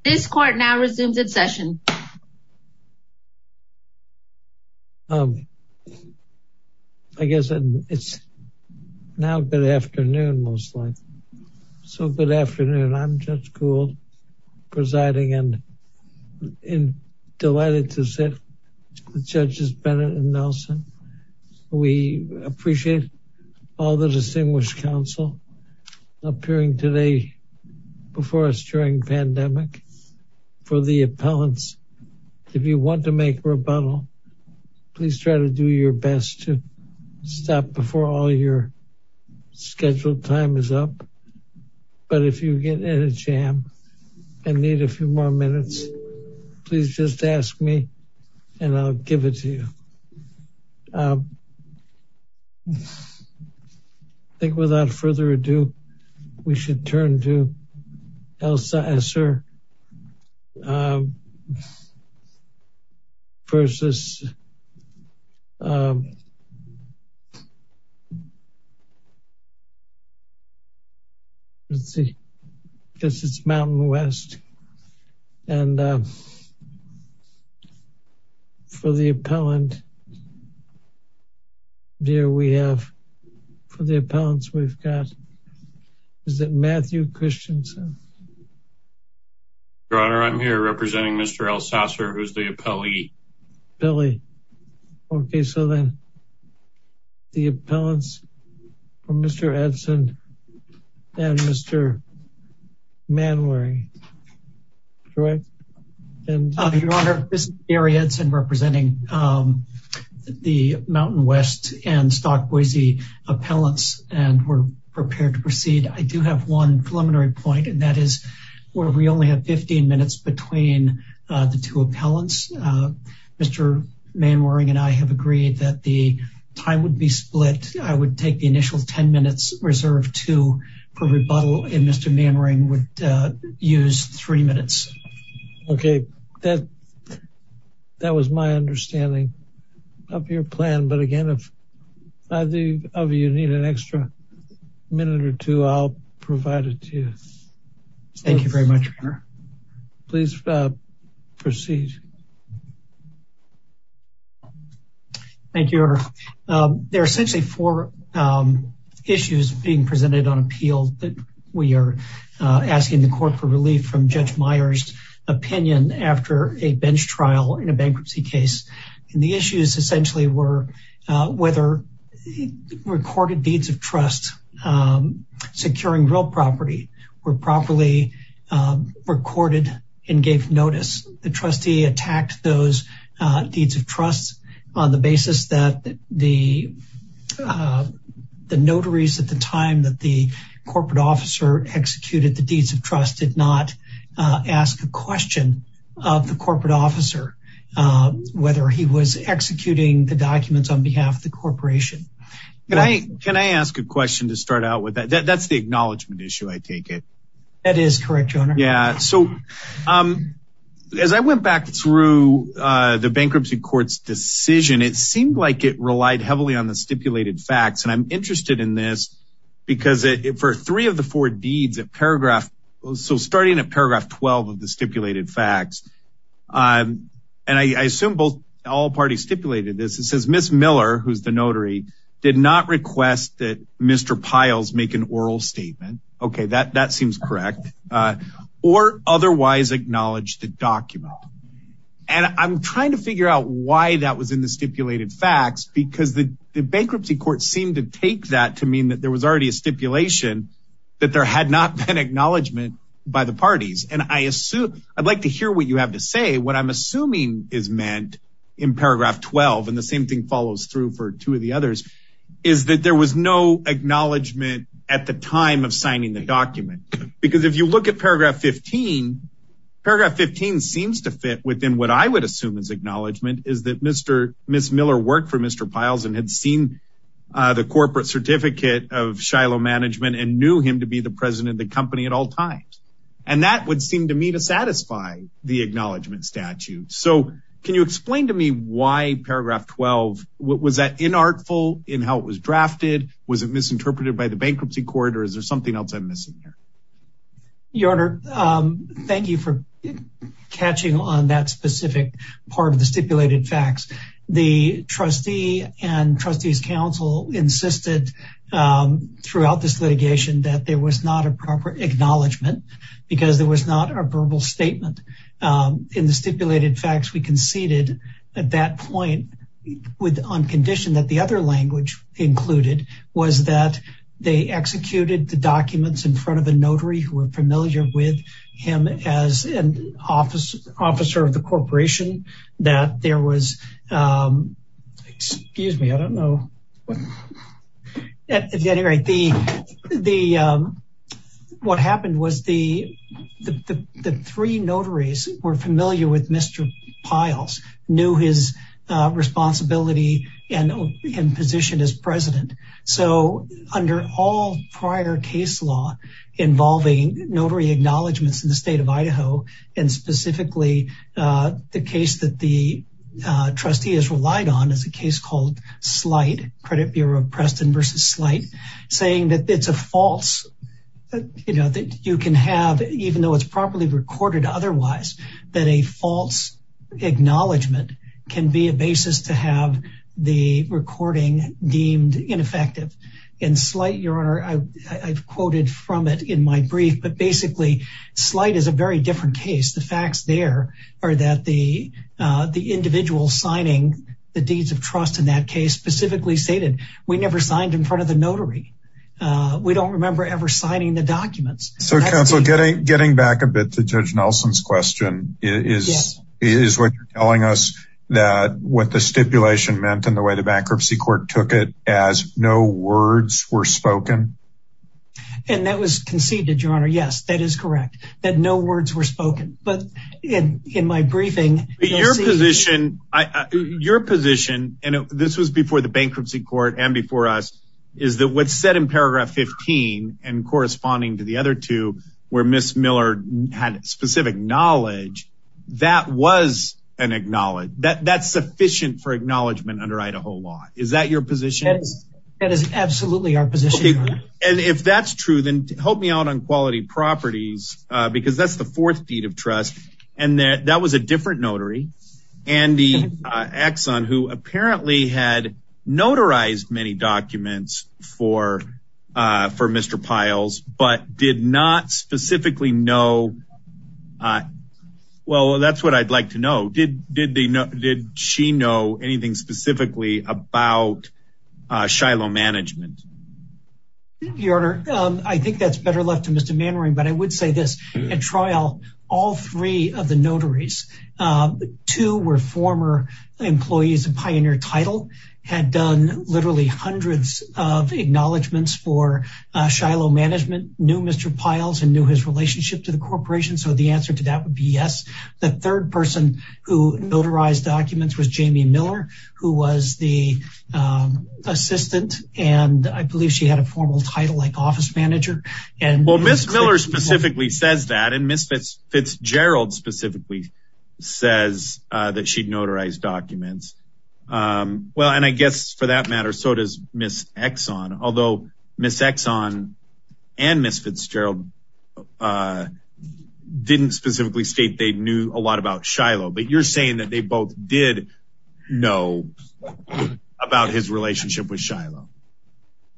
This court now resumes its session. I guess it's now good afternoon, most likely. So good afternoon. I'm Judge Gould, presiding and delighted to sit with Judges Bennett and Nelson. We appreciate all the distinguished counsel appearing today before us during pandemic for the appellants. If you want to make rebuttal, please try to do your best to stop before all your scheduled time is up. But if you get in a jam and need a few more minutes, please just ask me and I'll give it to you. I think without further ado, we should turn to Elsaesser v. Mountain West. And for the appellant, dear, we have for the appellants, we've got, is it Matthew Christensen? Your Honor, I'm here representing Mr. Elsaesser, who's the appellee. Billy. Okay, so then the appellants for Mr. Edson and Mr. Manwaring. Your Honor, this is Gary Edson representing the Mountain West and Stock Boise appellants, and we're prepared to proceed. I do have one preliminary point, and that is where we only have 15 minutes between the two appellants. Mr. Manwaring and I have agreed that the time would be split. I would take the initial 10 minutes reserved to for rebuttal, and Mr. Manwaring would use three minutes. Okay, that was my understanding of your plan. But again, if either of you need an extra minute or two, I'll provide it to you. Thank you very much, Your Honor. Please proceed. Thank you, Your Honor. There are essentially four issues being presented on appeal that we are asking the court for relief from Judge Myers' opinion after a bench trial in a bankruptcy case. And the issues essentially were whether recorded deeds of trust securing real property were properly recorded and gave notice. The trustee attacked those deeds of trust on the basis that the notaries at the time that the corporate officer executed the deeds of trust did not ask a question of the corporate officer whether he was executing the documents on behalf of the corporation. Can I ask a question to start out with that? That's the acknowledgment issue, I take it. That is correct, Your Honor. Yeah, so as I went back through the bankruptcy court's decision, it seemed like it relied heavily on the stipulated facts. And I'm interested in this because for three of the four deeds, starting at paragraph 12 of the stipulated facts, and I assume all parties stipulated this. It says Ms. Miller, who's the notary, did not request that Mr. Piles make an oral statement. Okay, that seems correct. Or otherwise acknowledge the document. And I'm trying to figure out why that was in the stipulated facts because the bankruptcy court seemed to take that to mean that there was already a stipulation that there had not been acknowledgment by the parties. And I'd like to hear what you have to say. What I'm assuming is meant in paragraph 12, and the same thing follows through for two of the others, is that there was no acknowledgment at the time of signing the document. Because if you look at paragraph 15, paragraph 15 seems to fit within what I would assume is acknowledgment, is that Ms. Miller worked for Mr. Piles and had seen the corporate certificate of Shiloh Management and knew him to be the president of the company at all times. And that would seem to me to satisfy the acknowledgment statute. So can you explain to me why paragraph 12? Was that inartful in how it was drafted? Was it misinterpreted by the bankruptcy court? Or is there something else I'm missing here? Your Honor, thank you for catching on that specific part of the stipulated facts. The trustee and trustees council insisted throughout this litigation that there was not a proper acknowledgment because there was not a verbal statement in the stipulated facts. At that point, on condition that the other language included was that they executed the documents in front of a notary who were familiar with him as an officer of the corporation. Excuse me, I don't know. At any rate, what happened was the three notaries were familiar with Mr. Piles, knew his responsibility and positioned as president. So under all prior case law involving notary acknowledgments in the state of Idaho and specifically the case that the trustee has relied on is a case called Sleight, Credit Bureau of Preston versus Sleight, saying that it's a false. You can have, even though it's properly recorded otherwise, that a false acknowledgment can be a basis to have the recording deemed ineffective. In Sleight, Your Honor, I've quoted from it in my brief, but basically Sleight is a very different case. The facts there are that the individual signing the deeds of trust in that case specifically stated, we never signed in front of the notary. We don't remember ever signing the documents. So, Counselor, getting back a bit to Judge Nelson's question, is what you're telling us that what the stipulation meant and the way the bankruptcy court took it as no words were spoken? And that was conceived, Your Honor. Yes, that is correct, that no words were spoken. Your position, and this was before the bankruptcy court and before us, is that what's said in paragraph 15 and corresponding to the other two, where Ms. Miller had specific knowledge, that was an acknowledgment. That's sufficient for acknowledgment under Idaho law. Is that your position? That is absolutely our position, Your Honor. And if that's true, then help me out on quality properties, because that's the fourth deed of trust. And that was a different notary, Andy Axon, who apparently had notarized many documents for Mr. Piles, but did not specifically know. Well, that's what I'd like to know. Did she know anything specifically about Shiloh Management? Your Honor, I think that's better left to Mr. Mannering, but I would say this, at trial, all three of the notaries, two were former employees of Pioneer Title, had done literally hundreds of acknowledgments for Shiloh Management, knew Mr. Piles and knew his relationship to the corporation, so the answer to that would be yes. The third person who notarized documents was Jamie Miller, who was the assistant, and I believe she had a formal title like office manager. Well, Ms. Miller specifically says that, and Ms. Fitzgerald specifically says that she'd notarized documents. Well, and I guess for that matter, so does Ms. Axon, although Ms. Axon and Ms. Fitzgerald didn't specifically state they knew a lot about Shiloh, but you're saying that they both did know about his relationship with Shiloh.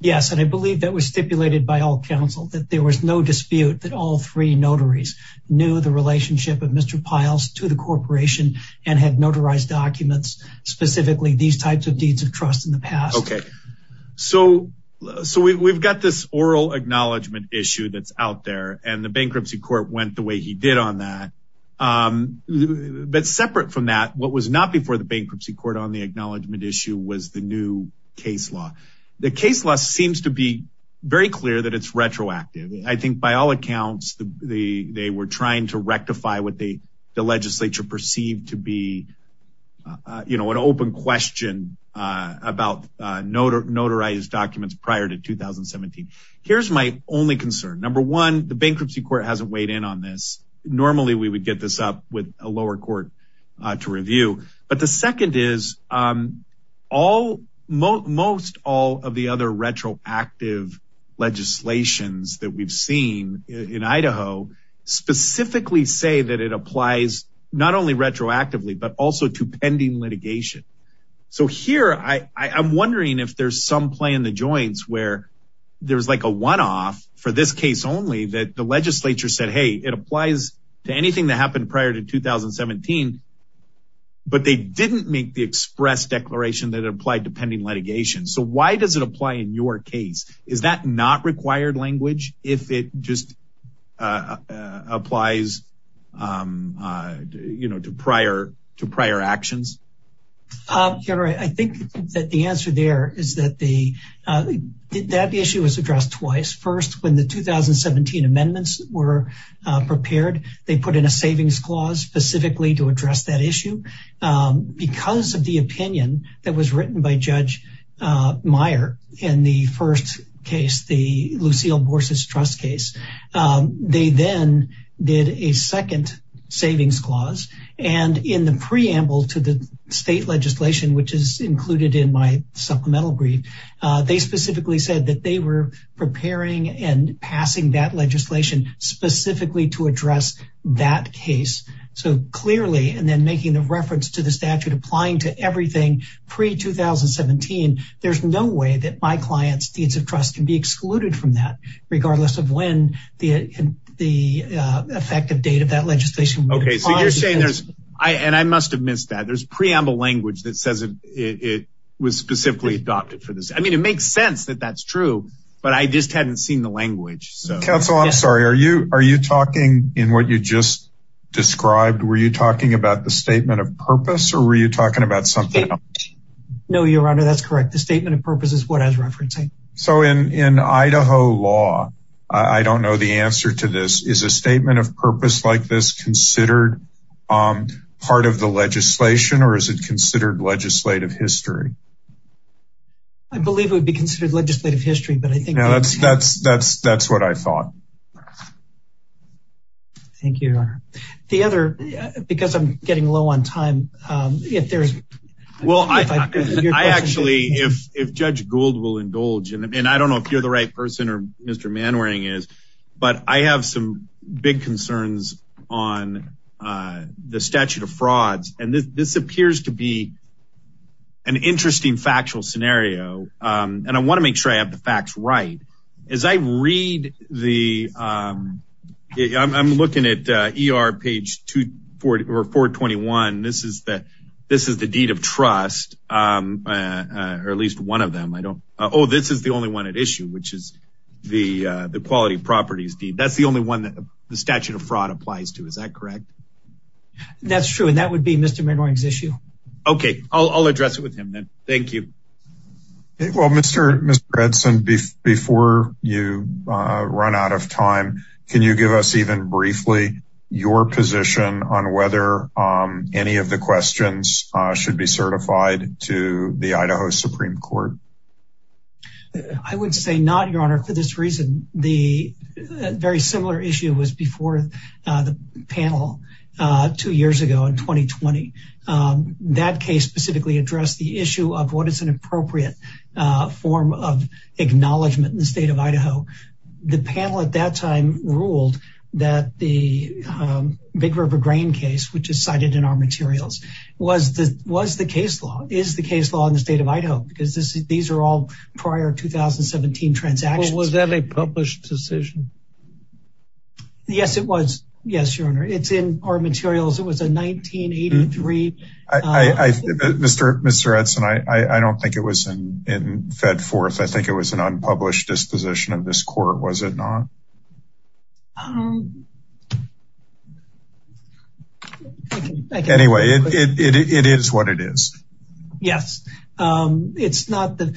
Yes, and I believe that was stipulated by all counsel, that there was no dispute that all three notaries knew the relationship of Mr. Piles to the corporation and had notarized documents, specifically these types of deeds of trust in the past. Okay, so we've got this oral acknowledgment issue that's out there, and the bankruptcy court went the way he did on that, but separate from that, what was not before the bankruptcy court on the acknowledgment issue was the new case law. The case law seems to be very clear that it's retroactive. I think by all accounts, they were trying to rectify what the legislature perceived to be an open question about notarized documents prior to 2017. Here's my only concern. Number one, the bankruptcy court hasn't weighed in on this. Normally we would get this up with a lower court to review. But the second is, most all of the other retroactive legislations that we've seen in Idaho specifically say that it applies not only retroactively, but also to pending litigation. So here I'm wondering if there's some play in the joints where there's like a one off for this case only that the legislature said, hey, it applies to anything that happened prior to 2017, but they didn't make the express declaration that applied to pending litigation. So why does it apply in your case? Is that not required language if it just applies to prior actions? I think that the answer there is that the issue was addressed twice. First, when the 2017 amendments were prepared, they put in a savings clause specifically to address that issue because of the opinion that was written by Judge Meyer in the first case, the Lucille Borses Trust case. They then did a second savings clause. And in the preamble to the state legislation, which is included in my supplemental brief, they specifically said that they were preparing and passing that legislation specifically to address that case. So clearly, and then making the reference to the statute applying to everything pre-2017, there's no way that my client's deeds of trust can be excluded from that, regardless of when the effective date of that legislation. Okay, so you're saying there's, and I must have missed that, there's preamble language that says it was specifically adopted for this. I mean, it makes sense that that's true, but I just hadn't seen the language. Counsel, I'm sorry, are you talking in what you just described? Were you talking about the statement of purpose or were you talking about something else? No, Your Honor, that's correct. The statement of purpose is what I was referencing. So in Idaho law, I don't know the answer to this. Is a statement of purpose like this considered part of the legislation or is it considered legislative history? I believe it would be considered legislative history, but I think that's what I thought. Thank you, Your Honor. The other, because I'm getting low on time, if there's... I actually, if Judge Gould will indulge, and I don't know if you're the right person or Mr. Manwaring is, but I have some big concerns on the statute of frauds. And this appears to be an interesting factual scenario. And I want to make sure I have the facts right. As I read the... I'm looking at ER page 421. This is the deed of trust, or at least one of them. Oh, this is the only one at issue, which is the quality properties deed. That's the only one that the statute of fraud applies to. Is that correct? That's true. And that would be Mr. Manwaring's issue. Okay, I'll address it with him then. Thank you. Well, Mr. Edson, before you run out of time, can you give us even briefly your position on whether any of the questions should be certified to the Idaho Supreme Court? I would say not, Your Honor, for this reason. The very similar issue was before the panel two years ago in 2020. That case specifically addressed the issue of what is an appropriate form of acknowledgement in the state of Idaho. The panel at that time ruled that the Big River Grain case, which is cited in our materials, was the case law, is the case law in the state of Idaho, because these are all prior 2017 transactions. Was that a published decision? Yes, it was. Yes, Your Honor. It's in our materials. It was a 1983... Mr. Edson, I don't think it was fed forth. I think it was an unpublished disposition of this court, was it not? Anyway, it is what it is. Yes. The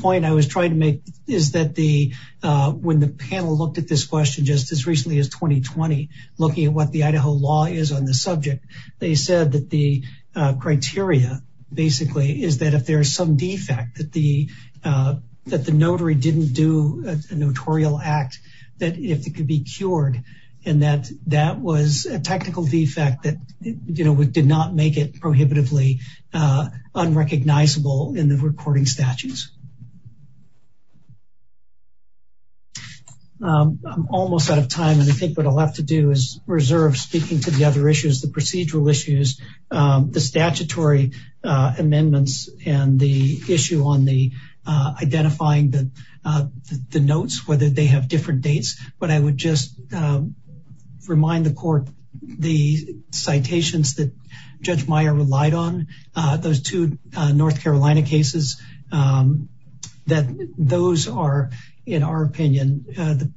point I was trying to make is that when the panel looked at this question just as recently as 2020, looking at what the Idaho law is on the subject, they said that the criteria, basically, is that if there is some defect, that the notary didn't do a notarial act, that it could be cured. And that was a technical defect that did not make it prohibitively unrecognizable in the recording statutes. I'm almost out of time, and I think what I'll have to do is reserve speaking to the other issues, the procedural issues, the statutory amendments, and the issue on the identifying the notes, whether they have different dates. But I would just remind the court the citations that Judge Meyer relied on, those two North Carolina cases, that those are, in our opinion, the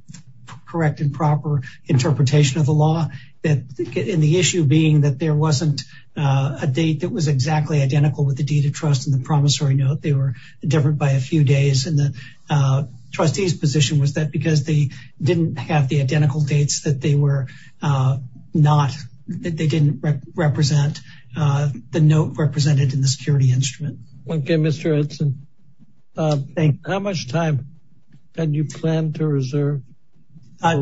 correct and proper interpretation of the law. And the issue being that there wasn't a date that was exactly identical with the deed of trust in the promissory note. They were different by a few days. And the trustee's position was that because they didn't have the identical dates, that they didn't represent the note represented in the security instrument. Okay, Mr. Edson. Thank you. How much time can you plan to reserve?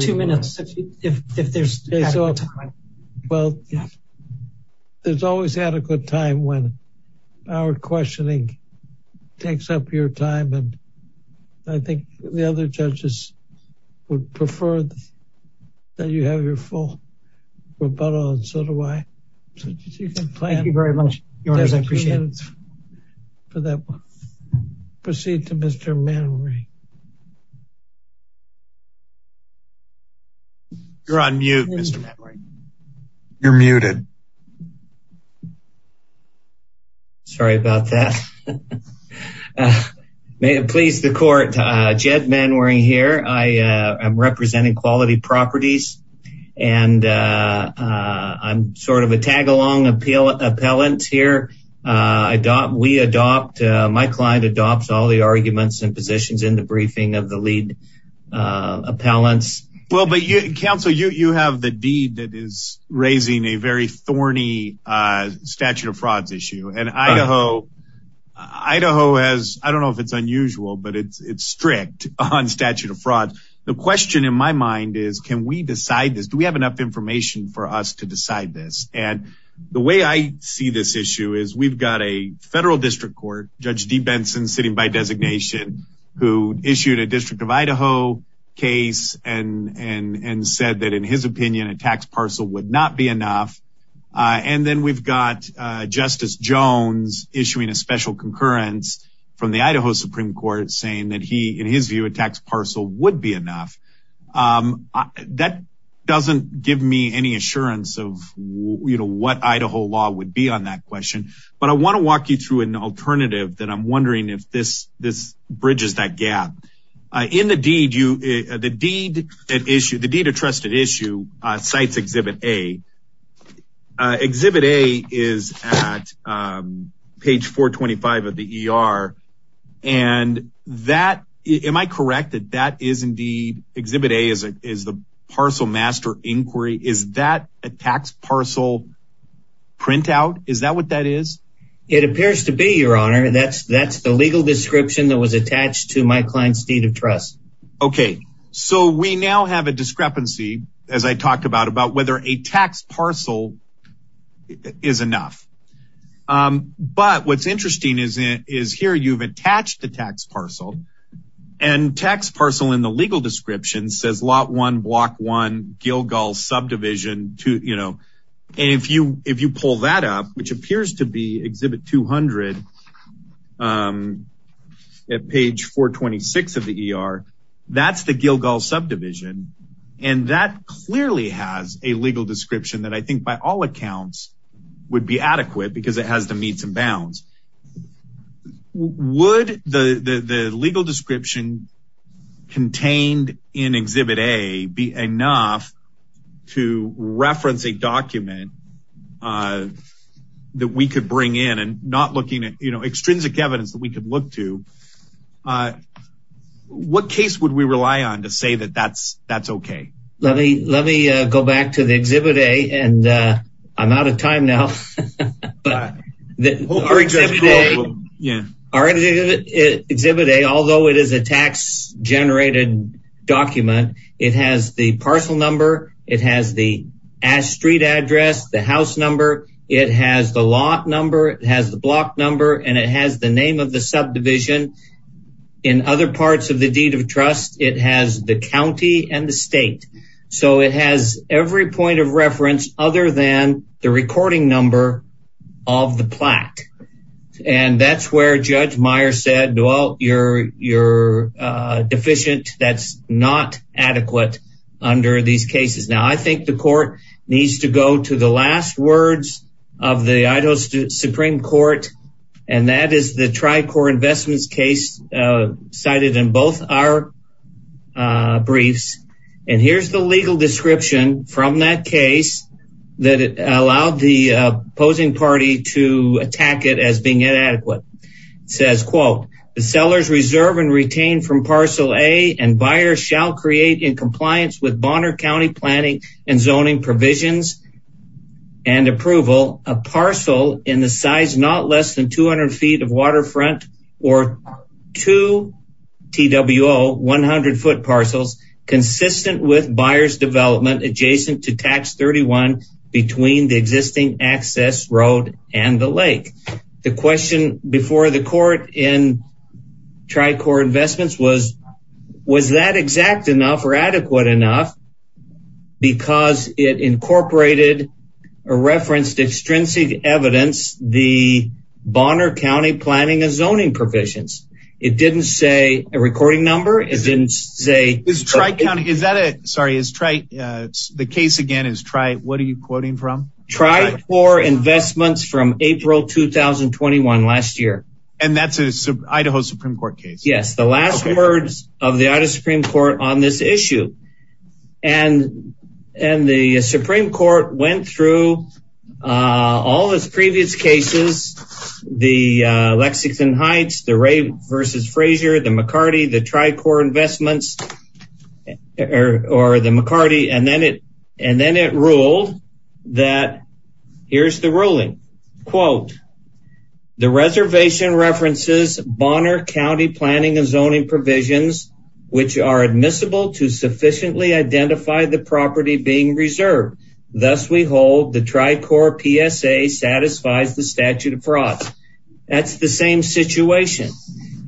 Two minutes, if there's adequate time. Well, there's always adequate time when our questioning takes up your time, and I think the other judges would prefer that you have your full rebuttal, and so do I. Thank you very much, Your Honor, I appreciate it. Proceed to Mr. Manory. You're on mute, Mr. Manory. Well, but, Counsel, you have the deed that is raising a very thorny statute of frauds issue, and Idaho has, I don't know if it's unusual, but it's strict on statute of frauds. The question in my mind is, can we decide this? Do we have enough information for us to decide this? And the way I see this issue is we've got a federal district court, Judge Dee Benson sitting by designation, who issued a District of Idaho case and said that in his opinion, a tax parcel would not be enough. And then we've got Justice Jones issuing a special concurrence from the Idaho Supreme Court saying that he, in his view, a tax parcel would be enough. That doesn't give me any assurance of what Idaho law would be on that question, but I want to walk you through an alternative that I'm wondering if this bridges that gap. In the deed, you, the deed at issue, the deed of trusted issue, cites Exhibit A. Exhibit A is at page 425 of the ER, and that, am I correct, that that is indeed, Exhibit A is the parcel master inquiry. Is that a tax parcel printout? Is that what that is? It appears to be, Your Honor. That's that's the legal description that was attached to my client's deed of trust. OK, so we now have a discrepancy, as I talked about, about whether a tax parcel is enough. But what's interesting is, is here you've attached a tax parcel and tax parcel in the legal description says lot one block one Gilgal subdivision to, you know, and if you if you pull that up, which appears to be Exhibit 200 at page 426 of the ER, that's the Gilgal subdivision. And that clearly has a legal description that I think by all accounts would be adequate because it has the meets and bounds. Would the legal description contained in Exhibit A be enough to reference a document that we could bring in and not looking at, you know, extrinsic evidence that we could look to? What case would we rely on to say that that's that's OK? Let me let me go back to the Exhibit A and I'm out of time now. Yeah, all right. Exhibit A, although it is a tax generated document, it has the parcel number. It has the street address, the house number. It has the lot number. It has the block number and it has the name of the subdivision in other parts of the deed of trust. It has the county and the state. So it has every point of reference other than the recording number of the plaque. And that's where Judge Meyer said, well, you're you're deficient. That's not adequate under these cases. Now, I think the court needs to go to the last words of the Idaho Supreme Court. And that is the Tri-Core Investments case cited in both our briefs. And here's the legal description from that case that it allowed the opposing party to attack it as being inadequate. It says, quote, the sellers reserve and retain from Parcel A and buyers shall create in compliance with Bonner County planning and zoning provisions and approval. A parcel in the size not less than 200 feet of waterfront or two T.W.O. 100 foot parcels. Consistent with buyers development adjacent to Tax 31 between the existing access road and the lake. The question before the court in Tri-Core Investments was, was that exact enough or adequate enough? Because it incorporated a reference to extrinsic evidence, the Bonner County planning and zoning provisions. It didn't say a recording number. It didn't say. Is Tri-County, is that it? Sorry. The case again is Tri, what are you quoting from? Tri-Core Investments from April 2021 last year. And that's a Idaho Supreme Court case. Yes. The last words of the Idaho Supreme Court on this issue. And and the Supreme Court went through all those previous cases. The Lexington Heights, the Ray versus Frazier, the McCarty, the Tri-Core Investments or the McCarty. And then it and then it ruled that here's the ruling. Quote, the reservation references Bonner County planning and zoning provisions, which are admissible to sufficiently identify the property being reserved. Thus, we hold the Tri-Core PSA satisfies the statute of fraud. That's the same situation.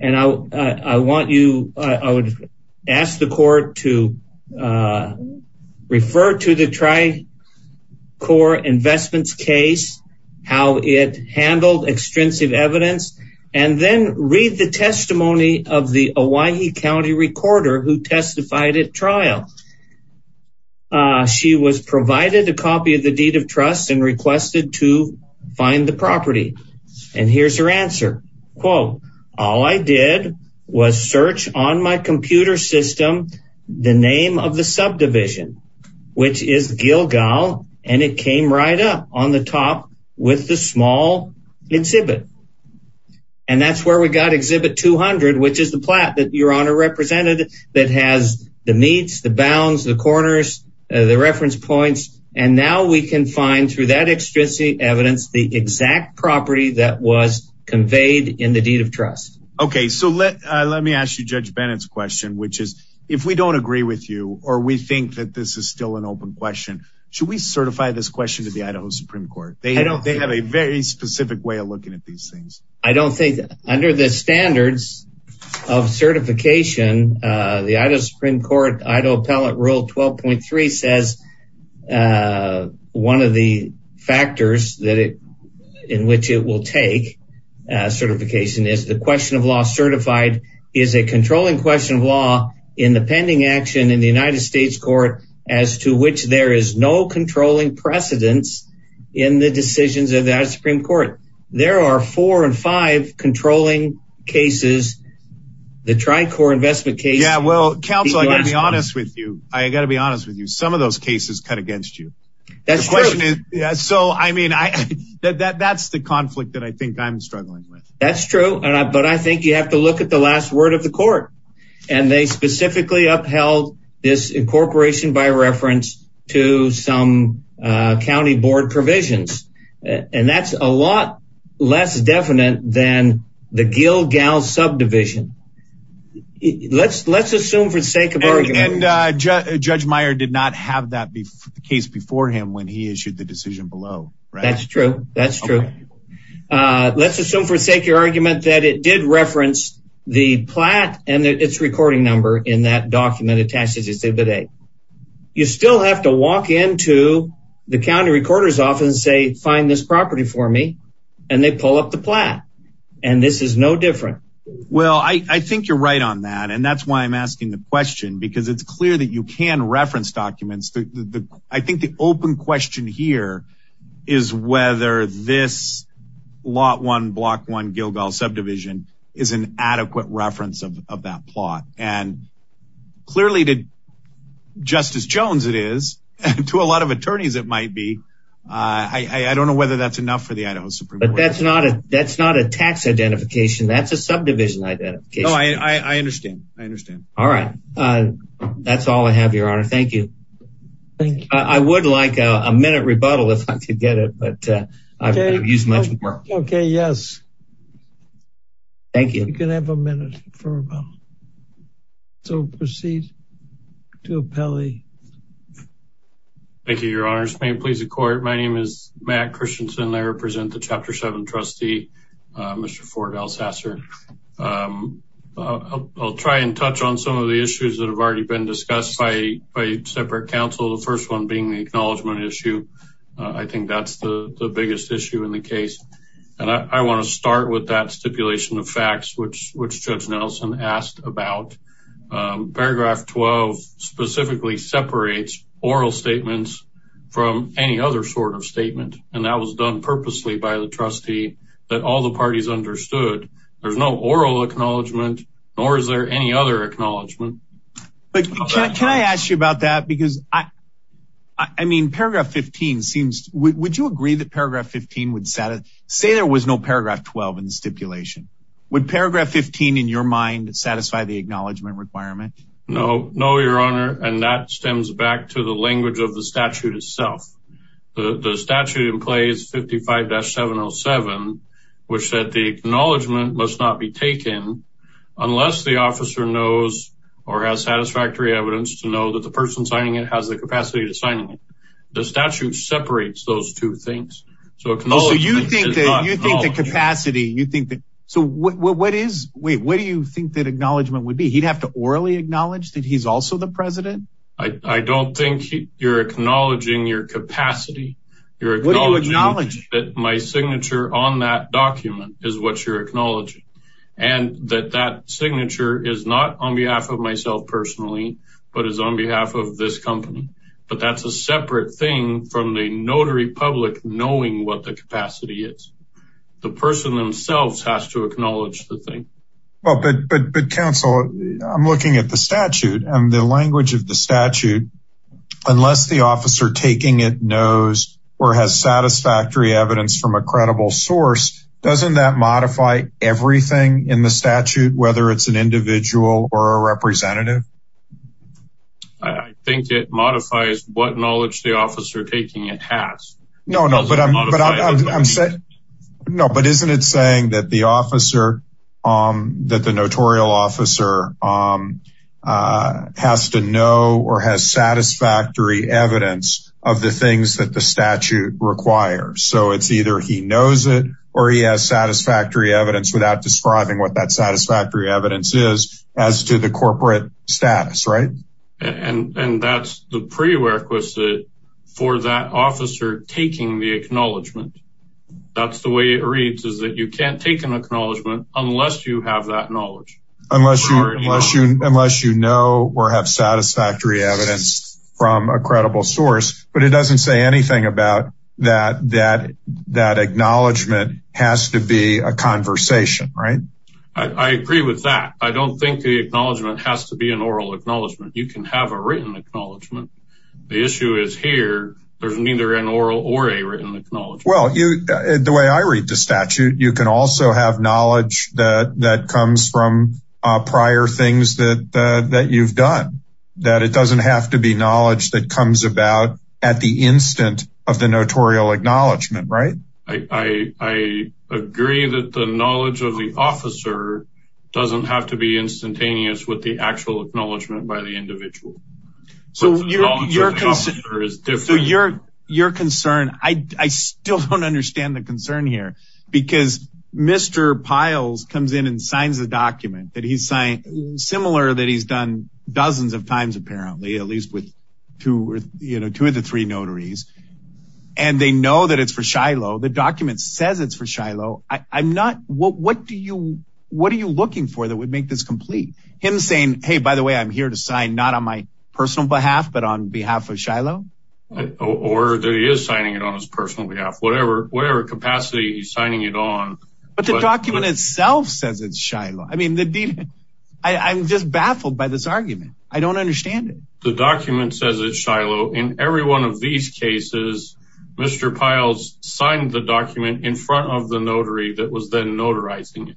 And I want you, I would ask the court to refer to the Tri-Core Investments case, how it handled extrinsic evidence. And then read the testimony of the Owyhee County recorder who testified at trial. She was provided a copy of the deed of trust and requested to find the property. And here's her answer. Quote, all I did was search on my computer system the name of the subdivision, which is Gilgal. And it came right up on the top with the small exhibit. And that's where we got exhibit 200, which is the plot that your honor represented that has the meets, the bounds, the corners, the reference points. And now we can find through that extrinsic evidence the exact property that was conveyed in the deed of trust. OK, so let let me ask you, Judge Bennett's question, which is if we don't agree with you or we think that this is still an open question. Should we certify this question to the Idaho Supreme Court? They don't they have a very specific way of looking at these things. I don't think under the standards of certification, the Idaho Supreme Court, Idaho Appellate Rule 12.3 says one of the factors that it in which it will take certification is the question of law certified is a controlling question of law in the pending action in the United States court. As to which there is no controlling precedence in the decisions of the Supreme Court. There are four and five controlling cases. The Tricor investment case. Yeah, well, counsel, I'll be honest with you. I got to be honest with you. Some of those cases cut against you. That's the question. So, I mean, that's the conflict that I think I'm struggling with. That's true. But I think you have to look at the last word of the court. And they specifically upheld this incorporation by reference to some county board provisions. And that's a lot less definite than the Gilgal subdivision. Let's let's assume for the sake of argument. And Judge Meyer did not have that case before him when he issued the decision below. That's true. That's true. Let's assume for the sake of argument that it did reference the plat and its recording number in that document attached to the day. You still have to walk into the county recorder's office and say, find this property for me. And they pull up the plat. And this is no different. Well, I think you're right on that. And that's why I'm asking the question. Because it's clear that you can reference documents. I think the open question here is whether this lot one block one Gilgal subdivision is an adequate reference of that plot. And clearly to Justice Jones it is. To a lot of attorneys it might be. I don't know whether that's enough for the Idaho Supreme Court. But that's not a tax identification. That's a subdivision identification. I understand. I understand. All right. That's all I have, Your Honor. Thank you. Thank you. I would like a minute rebuttal if I could get it. But I've used much more. Okay. Yes. Thank you. You can have a minute for rebuttal. So proceed to appellee. Thank you, Your Honor. May it please the court. My name is Matt Christensen. I represent the Chapter 7 trustee, Mr. Ford Alsasser. I'll try and touch on some of the issues that have already been discussed by separate counsel. The first one being the acknowledgement issue. I think that's the biggest issue in the case. And I want to start with that stipulation of facts, which Judge Nelson asked about. Paragraph 12 specifically separates oral statements from any other sort of statement. And that was done purposely by the trustee that all the parties understood. There's no oral acknowledgement, nor is there any other acknowledgement. But can I ask you about that? Because I mean, paragraph 15 seems. Would you agree that paragraph 15 would say there was no paragraph 12 in the stipulation? Would paragraph 15 in your mind satisfy the acknowledgement requirement? No. No, Your Honor. And that stems back to the language of the statute itself. The statute in place 55-707, which said the acknowledgement must not be taken unless the officer knows or has satisfactory evidence to know that the person signing it has the capacity to sign it. The statute separates those two things. So you think that you think the capacity you think that. So what is what do you think that acknowledgement would be? He'd have to orally acknowledge that he's also the president. I don't think you're acknowledging your capacity. You're acknowledging that my signature on that document is what you're acknowledging. And that that signature is not on behalf of myself personally, but is on behalf of this company. But that's a separate thing from the notary public knowing what the capacity is. The person themselves has to acknowledge the thing. But counsel, I'm looking at the statute and the language of the statute, unless the officer taking it knows or has satisfactory evidence from a credible source. Doesn't that modify everything in the statute, whether it's an individual or a representative? I think it modifies what knowledge the officer taking it has. No, no, but I'm saying no. But isn't it saying that the officer that the notarial officer has to know or has satisfactory evidence of the things that the statute requires? So it's either he knows it or he has satisfactory evidence without describing what that satisfactory evidence is as to the corporate status. And that's the prerequisite for that officer taking the acknowledgement. That's the way it reads is that you can't take an acknowledgement unless you have that knowledge. Unless you know or have satisfactory evidence from a credible source. But it doesn't say anything about that. That that acknowledgement has to be a conversation. Right. I agree with that. I don't think the acknowledgement has to be an oral acknowledgement. You can have a written acknowledgement. The issue is here. There's neither an oral or a written acknowledgement. Well, the way I read the statute, you can also have knowledge that comes from prior things that you've done. That it doesn't have to be knowledge that comes about at the instant of the notarial acknowledgement. Right. I agree that the knowledge of the officer doesn't have to be instantaneous with the actual acknowledgement by the individual. So your concern, I still don't understand the concern here. Because Mr. Piles comes in and signs the document that he's signed. Similar that he's done dozens of times, apparently. At least with two or three notaries. And they know that it's for Shiloh. The document says it's for Shiloh. What are you looking for that would make this complete? Him saying, hey, by the way, I'm here to sign not on my personal behalf, but on behalf of Shiloh? Or that he is signing it on his personal behalf. Whatever capacity he's signing it on. But the document itself says it's Shiloh. I'm just baffled by this argument. I don't understand it. The document says it's Shiloh. In every one of these cases, Mr. Piles signed the document in front of the notary that was then notarizing it.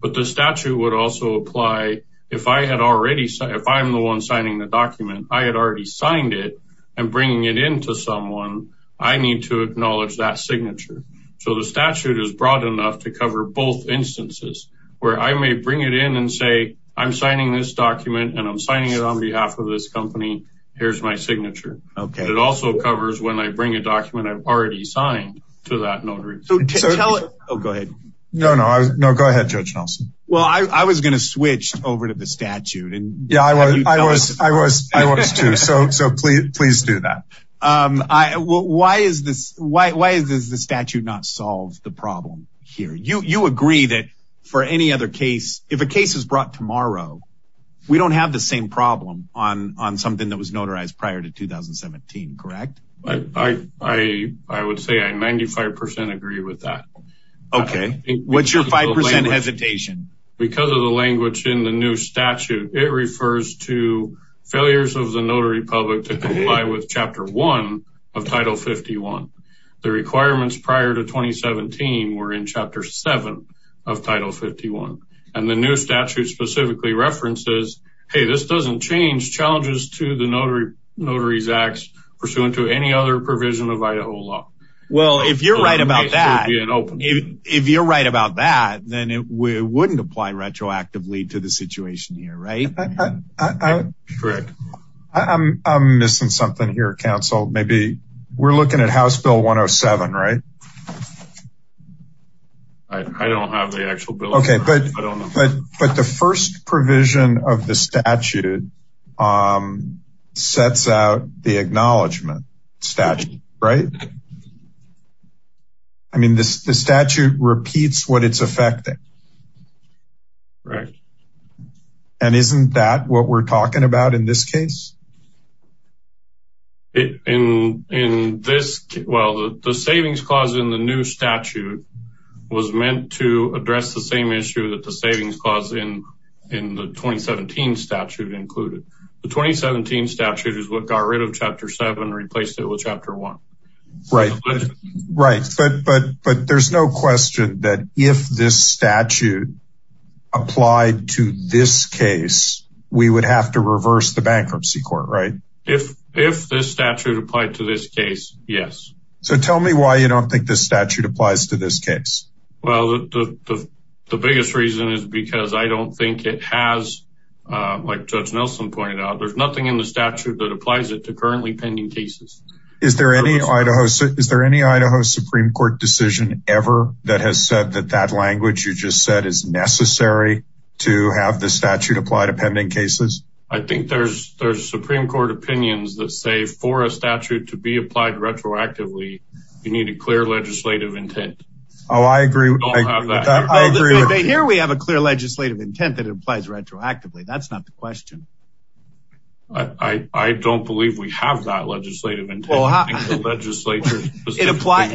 But the statute would also apply if I'm the one signing the document. I had already signed it. I'm bringing it in to someone. I need to acknowledge that signature. So the statute is broad enough to cover both instances. Where I may bring it in and say, I'm signing this document, and I'm signing it on behalf of this company. Here's my signature. It also covers when I bring a document I've already signed to that notary. Go ahead. No, go ahead, Judge Nelson. Well, I was going to switch over to the statute. Yeah, I was too. So please do that. Why does the statute not solve the problem here? You agree that for any other case, if a case is brought tomorrow, we don't have the same problem on something that was notarized prior to 2017, correct? I would say I 95% agree with that. Okay. What's your 5% hesitation? Because of the language in the new statute, it refers to failures of the notary public to comply with Chapter 1 of Title 51. The requirements prior to 2017 were in Chapter 7 of Title 51. And the new statute specifically references, hey, this doesn't change challenges to the notary's acts pursuant to any other provision of Idaho law. Well, if you're right about that, if you're right about that, then it wouldn't apply retroactively to the situation here, right? Correct. I'm missing something here, Council. Maybe we're looking at House Bill 107, right? I don't have the actual bill. Okay, but the first provision of the statute sets out the acknowledgement statute, right? I mean, the statute repeats what it's affecting. Right. And isn't that what we're talking about in this case? In this, well, the savings clause in the new statute was meant to address the same issue that the savings clause in the 2017 statute included. The 2017 statute is what got rid of Chapter 7, replaced it with Chapter 1. Right. But there's no question that if this statute applied to this case, we would have to reverse the bankruptcy court, right? If this statute applied to this case, yes. So tell me why you don't think this statute applies to this case. Well, the biggest reason is because I don't think it has, like Judge Nelson pointed out, there's nothing in the statute that applies it to currently pending cases. Is there any Idaho Supreme Court decision ever that has said that that language you just said is necessary to have the statute apply to pending cases? I think there's Supreme Court opinions that say for a statute to be applied retroactively, you need a clear legislative intent. Oh, I agree. We don't have that. Here we have a clear legislative intent that it applies retroactively. That's not the question. I don't believe we have that legislative intent.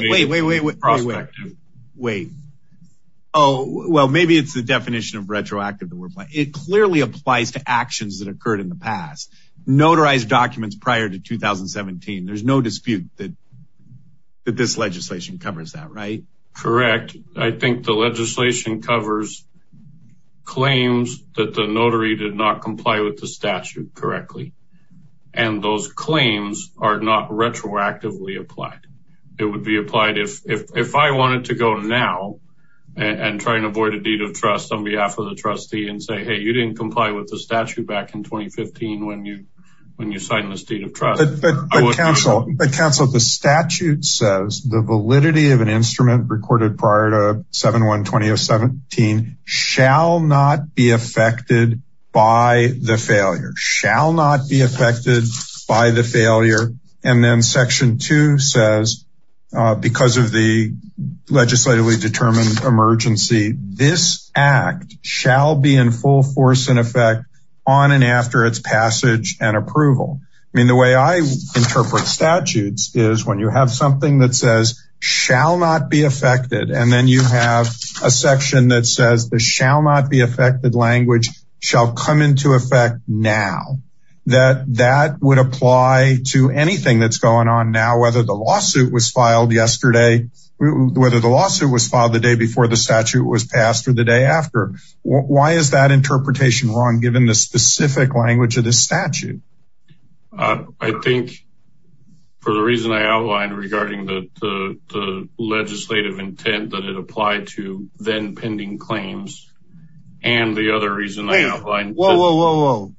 Wait, wait, wait, wait, wait. Oh, well, maybe it's the definition of retroactive. It clearly applies to actions that occurred in the past. Notarized documents prior to 2017. There's no dispute that this legislation covers that, right? Correct. I think the legislation covers claims that the notary did not comply with the statute correctly, and those claims are not retroactively applied. It would be applied if I wanted to go now and try and avoid a deed of trust on behalf of the trustee and say, hey, you didn't comply with the statute back in 2015 when you signed this deed of trust. But counsel, the statute says the validity of an instrument recorded prior to 7-1-20-17 shall not be affected by the failure. Shall not be affected by the failure. And then section two says, because of the legislatively determined emergency, this act shall be in full force and effect on and after its passage and approval. I mean, the way I interpret statutes is when you have something that says shall not be affected, and then you have a section that says the shall not be affected language shall come into effect now. That that would apply to anything that's going on now, whether the lawsuit was filed yesterday, whether the lawsuit was filed the day before the statute was passed or the day after. Why is that interpretation wrong, given the specific language of the statute? I think for the reason I outlined regarding the legislative intent that it applied to then pending claims and the other reason. Well,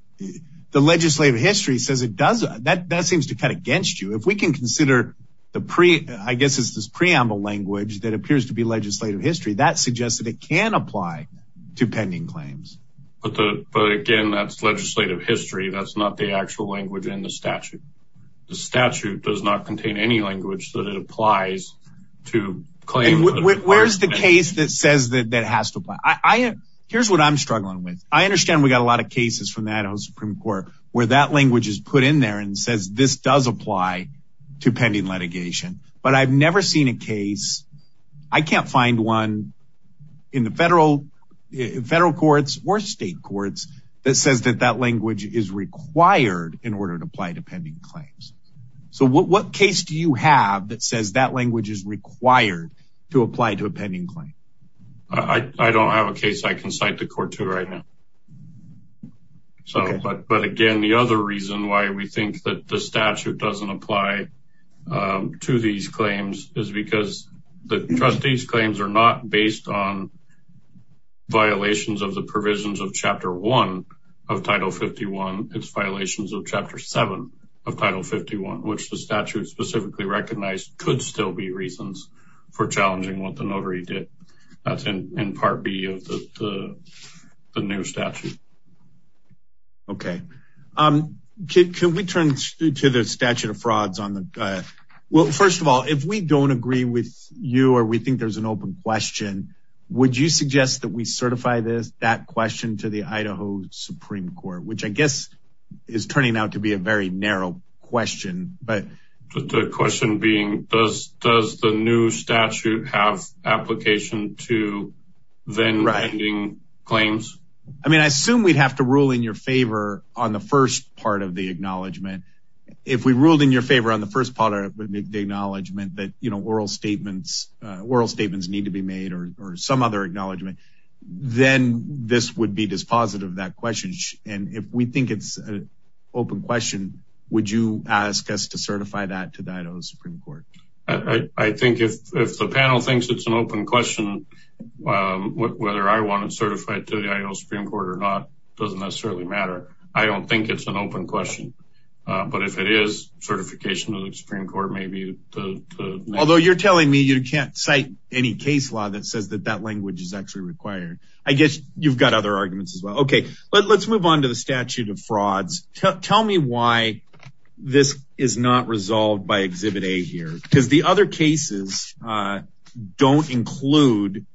the legislative history says it does. That seems to cut against you. If we can consider the I guess it's this preamble language that appears to be legislative history that suggests that it can apply to pending claims. But again, that's legislative history. That's not the actual language in the statute. The statute does not contain any language that it applies to claim. Where's the case that says that has to apply? Here's what I'm struggling with. I understand we got a lot of cases from the Idaho Supreme Court where that language is put in there and says this does apply to pending litigation. But I've never seen a case. I can't find one in the federal federal courts or state courts that says that that language is required in order to apply to pending claims. So what case do you have that says that language is required to apply to a pending claim? I don't have a case I can cite the court to right now. So, but again, the other reason why we think that the statute doesn't apply to these claims is because the trustees claims are not based on. Violations of the provisions of Chapter 1 of Title 51. It's violations of Chapter 7 of Title 51, which the statute specifically recognized could still be reasons for challenging what the notary did. That's in part B of the new statute. Okay, can we turn to the statute of frauds on the. Well, first of all, if we don't agree with you or we think there's an open question, would you suggest that we certify this that question to the Idaho Supreme Court, which I guess is turning out to be a very narrow question. But the question being, does the new statute have application to then writing claims? I mean, I assume we'd have to rule in your favor on the first part of the acknowledgement. If we ruled in your favor on the first part of the acknowledgement that oral statements need to be made or some other acknowledgement, then this would be dispositive of that question. And if we think it's an open question, would you ask us to certify that to the Idaho Supreme Court? I think if the panel thinks it's an open question, whether I want it certified to the Idaho Supreme Court or not, doesn't necessarily matter. I don't think it's an open question. But if it is certification of the Supreme Court, maybe. Although you're telling me you can't cite any case law that says that that language is actually required. I guess you've got other arguments as well. Okay, let's move on to the statute of frauds. Tell me why this is not resolved by Exhibit A here, because the other cases don't include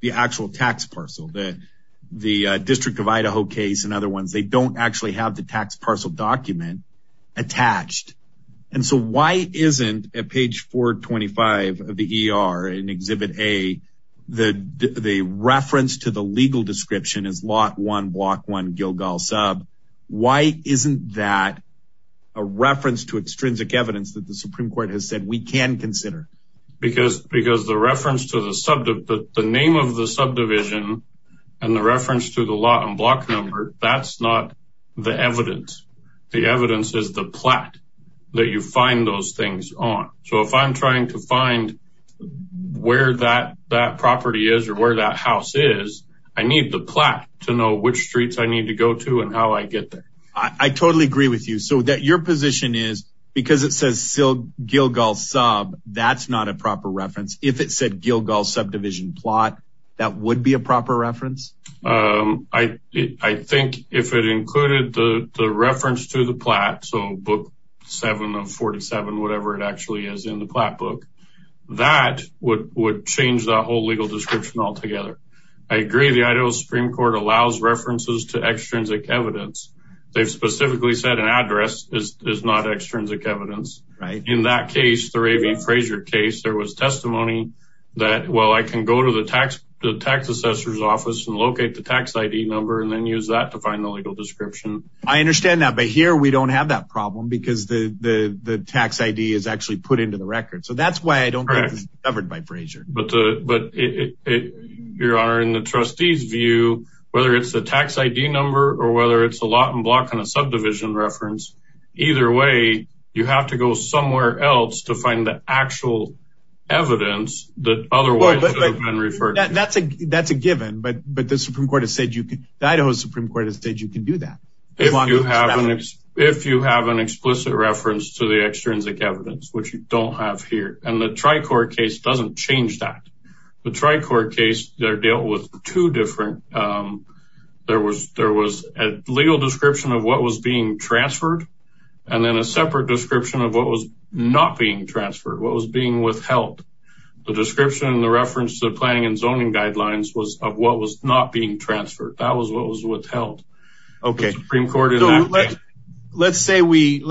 the actual tax parcel. The District of Idaho case and other ones, they don't actually have the tax parcel document attached. And so why isn't at page 425 of the ER in Exhibit A, the reference to the legal description is Lot 1, Block 1, Gilgal Sub. Why isn't that a reference to extrinsic evidence that the Supreme Court has said we can consider? Because the reference to the name of the subdivision and the reference to the lot and block number, that's not the evidence. The evidence is the plat that you find those things on. So if I'm trying to find where that property is or where that house is, I need the plat to know which streets I need to go to and how I get there. I totally agree with you. So your position is because it says Gilgal Sub, that's not a proper reference. If it said Gilgal Subdivision Plot, that would be a proper reference? I think if it included the reference to the plat, so Book 7 of 47, whatever it actually is in the plat book, that would change the whole legal description altogether. I agree the Idaho Supreme Court allows references to extrinsic evidence. They've specifically said an address is not extrinsic evidence. In that case, the Ray V. Frazier case, there was testimony that, well, I can go to the tax assessor's office and locate the tax ID number and then use that to find the legal description. I understand that, but here we don't have that problem because the tax ID is actually put into the record. So that's why I don't think it's covered by Frazier. Your Honor, in the trustee's view, whether it's the tax ID number or whether it's a lot and block and a subdivision reference, either way, you have to go somewhere else to find the actual evidence that otherwise should have been referred to. That's a given, but the Idaho Supreme Court has said you can do that. If you have an explicit reference to the extrinsic evidence, which you don't have here, and the Tri-Court case doesn't change that. The Tri-Court case there dealt with two different, there was a legal description of what was being transferred and then a separate description of what was not being transferred, what was being withheld. The description, the reference to the planning and zoning guidelines was of what was not being transferred. That was what was withheld. Okay. Let's say we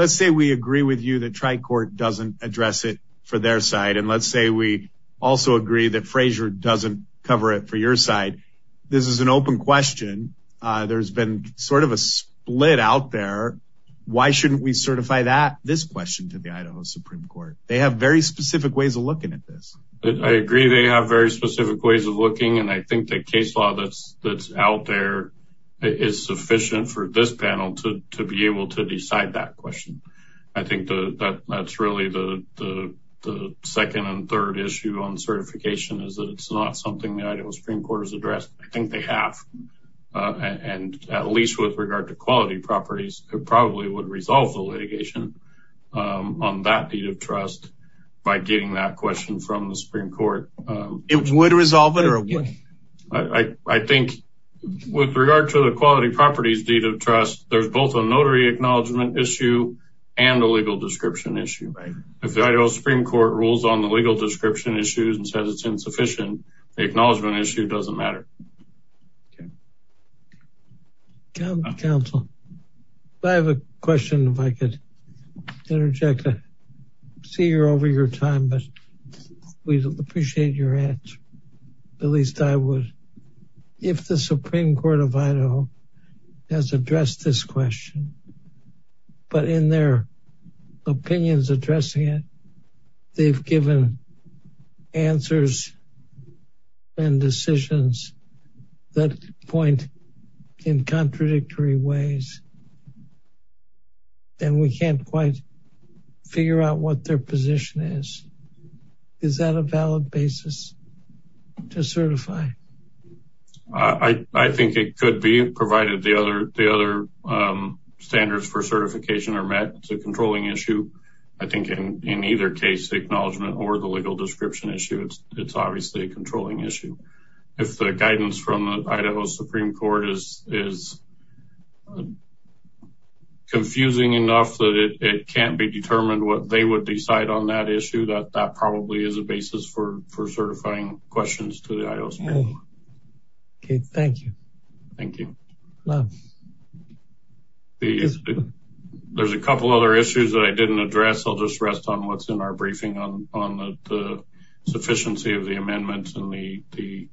agree with you that Tri-Court doesn't address it for their side. And let's say we also agree that Frazier doesn't cover it for your side. This is an open question. There's been sort of a split out there. Why shouldn't we certify this question to the Idaho Supreme Court? They have very specific ways of looking at this. I agree they have very specific ways of looking, and I think the case law that's out there is sufficient for this panel to be able to decide that question. I think that's really the second and third issue on certification is that it's not something the Idaho Supreme Court has addressed. I think they have. And at least with regard to quality properties, it probably would resolve the litigation on that deed of trust by getting that question from the Supreme Court. It would resolve it? I think with regard to the quality properties deed of trust, there's both a notary acknowledgement issue and a legal description issue. If the Idaho Supreme Court rules on the legal description issues and says it's insufficient, the acknowledgement issue doesn't matter. Counsel, I have a question if I could interject. I see you're over your time, but we appreciate your answer. At least I would. If the Supreme Court of Idaho has addressed this question, but in their opinions addressing it, they've given answers and decisions that point in contradictory ways, then we can't quite figure out what their position is. Is that a valid basis to certify? I think it could be, provided the other standards for certification are met. It's a controlling issue. I think in either case, the acknowledgement or the legal description issue, it's obviously a controlling issue. If the guidance from the Idaho Supreme Court is confusing enough that it can't be determined what they would decide on that issue, that probably is a basis for certifying questions to the Idaho Supreme Court. Okay, thank you. Thank you. There's a couple other issues that I didn't address. I'll just rest on what's in our briefing on the sufficiency of the amendments and the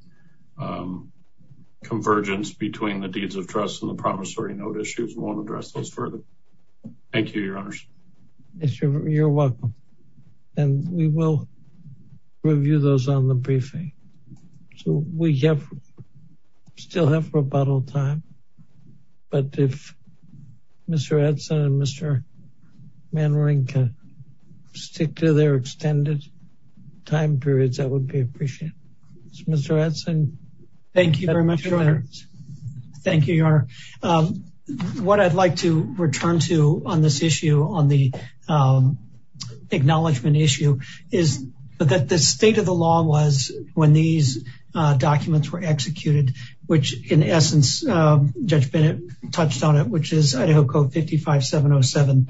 convergence between the deeds of trust and the promissory note issues. We won't address those further. Thank you, Your Honors. You're welcome. And we will review those on the briefing. So we still have rebuttal time. But if Mr. Edson and Mr. Manning can stick to their extended time periods, that would be appreciated. Mr. Edson. Thank you very much, Your Honors. Thank you, Your Honor. What I'd like to return to on this issue, on the acknowledgement issue, is that the state of the law was when these documents were executed, which in essence, Judge Bennett touched on it, which is Idaho Code 55707.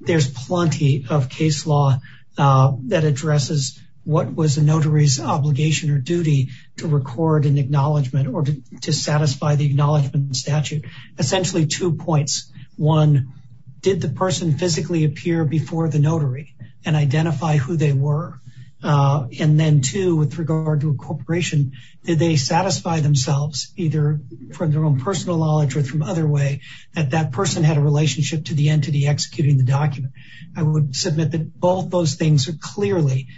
There's plenty of case law that addresses what was a notary's obligation or duty to record an acknowledgement or to satisfy the acknowledgement statute. Essentially, two points. One, did the person physically appear before the notary and identify who they were? And then two, with regard to incorporation, did they satisfy themselves, either from their own personal knowledge or from other way, that that person had a relationship to the entity executing the document? I would submit that both those things are clearly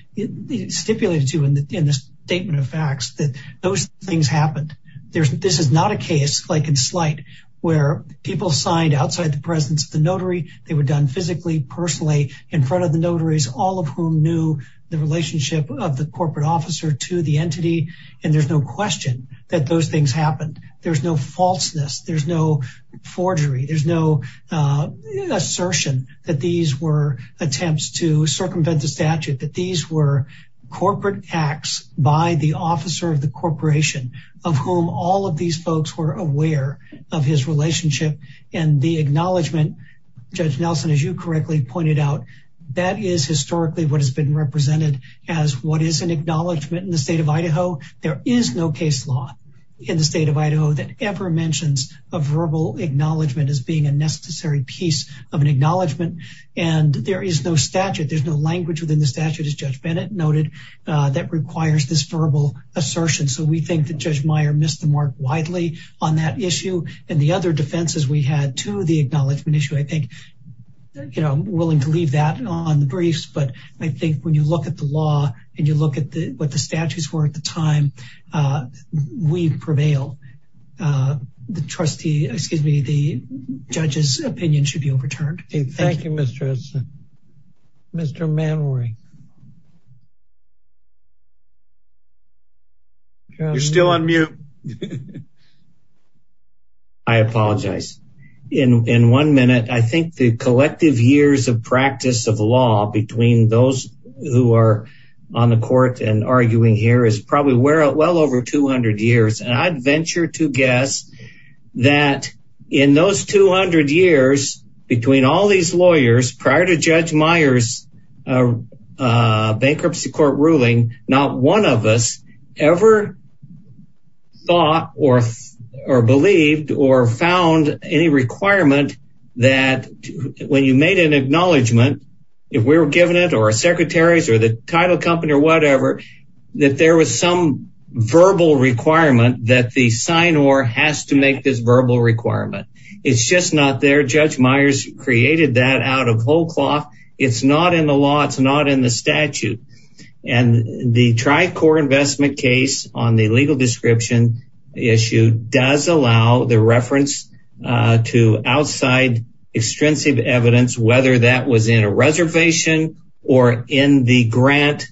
stipulated to in the statement of facts, that those things happened. This is not a case, like in slight, where people signed outside the presence of the notary. They were done physically, personally, in front of the notaries, all of whom knew the relationship of the corporate officer to the entity. And there's no question that those things happened. There's no falseness. There's no forgery. There's no assertion that these were attempts to circumvent the statute, that these were corporate acts by the officer of the corporation of whom all of these folks were aware of his relationship. And the acknowledgement, Judge Nelson, as you correctly pointed out, that is historically what has been represented as what is an acknowledgement in the state of Idaho. There is no case law in the state of Idaho that ever mentions a verbal acknowledgement as being a necessary piece of an acknowledgement. And there is no statute. There's no language within the statute, as Judge Bennett noted, that requires this verbal assertion. So we think that Judge Meyer missed the mark widely on that issue. And the other defenses we had to the acknowledgement issue, I think, you know, willing to leave that on the briefs. But I think when you look at the law and you look at what the statutes were at the time, we prevail. The trustee, excuse me, the judge's opinion should be overturned. Thank you, Mr. Edson. Mr. Manwari. You're still on mute. I apologize. In one minute, I think the collective years of practice of law between those who are on the court and arguing here is probably well over 200 years. And I'd venture to guess that in those 200 years between all these lawyers prior to Judge Meyer's bankruptcy court ruling, not one of us ever thought or believed or found any requirement that when you made an acknowledgement, if we were given it or our secretaries or the title company or whatever, that there was some verbal requirement that the sign or has to make this verbal requirement. It's just not there. Judge Myers created that out of whole cloth. It's not in the law. It's not in the statute. And the tricore investment case on the legal description issue does allow the reference to outside extensive evidence, whether that was in a reservation or in the grant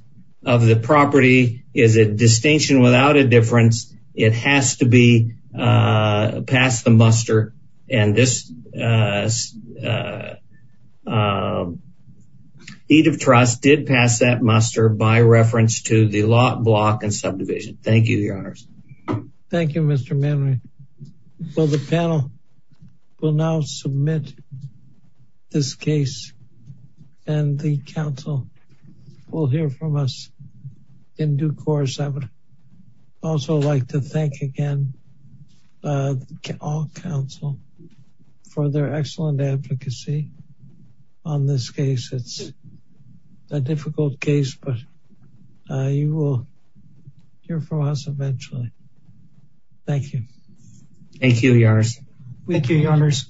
of the property is a distinction without a difference. It has to be passed the muster. And this deed of trust did pass that muster by reference to the lot block and subdivision. Thank you, Your Honors. Thank you, Mr. Manwari. So the panel will now submit this case and the council will hear from us in due course. I would also like to thank again all counsel for their excellent advocacy on this case. It's a difficult case, but you will hear from us eventually. Thank you. Thank you, Your Honors. Thank you, Your Honors.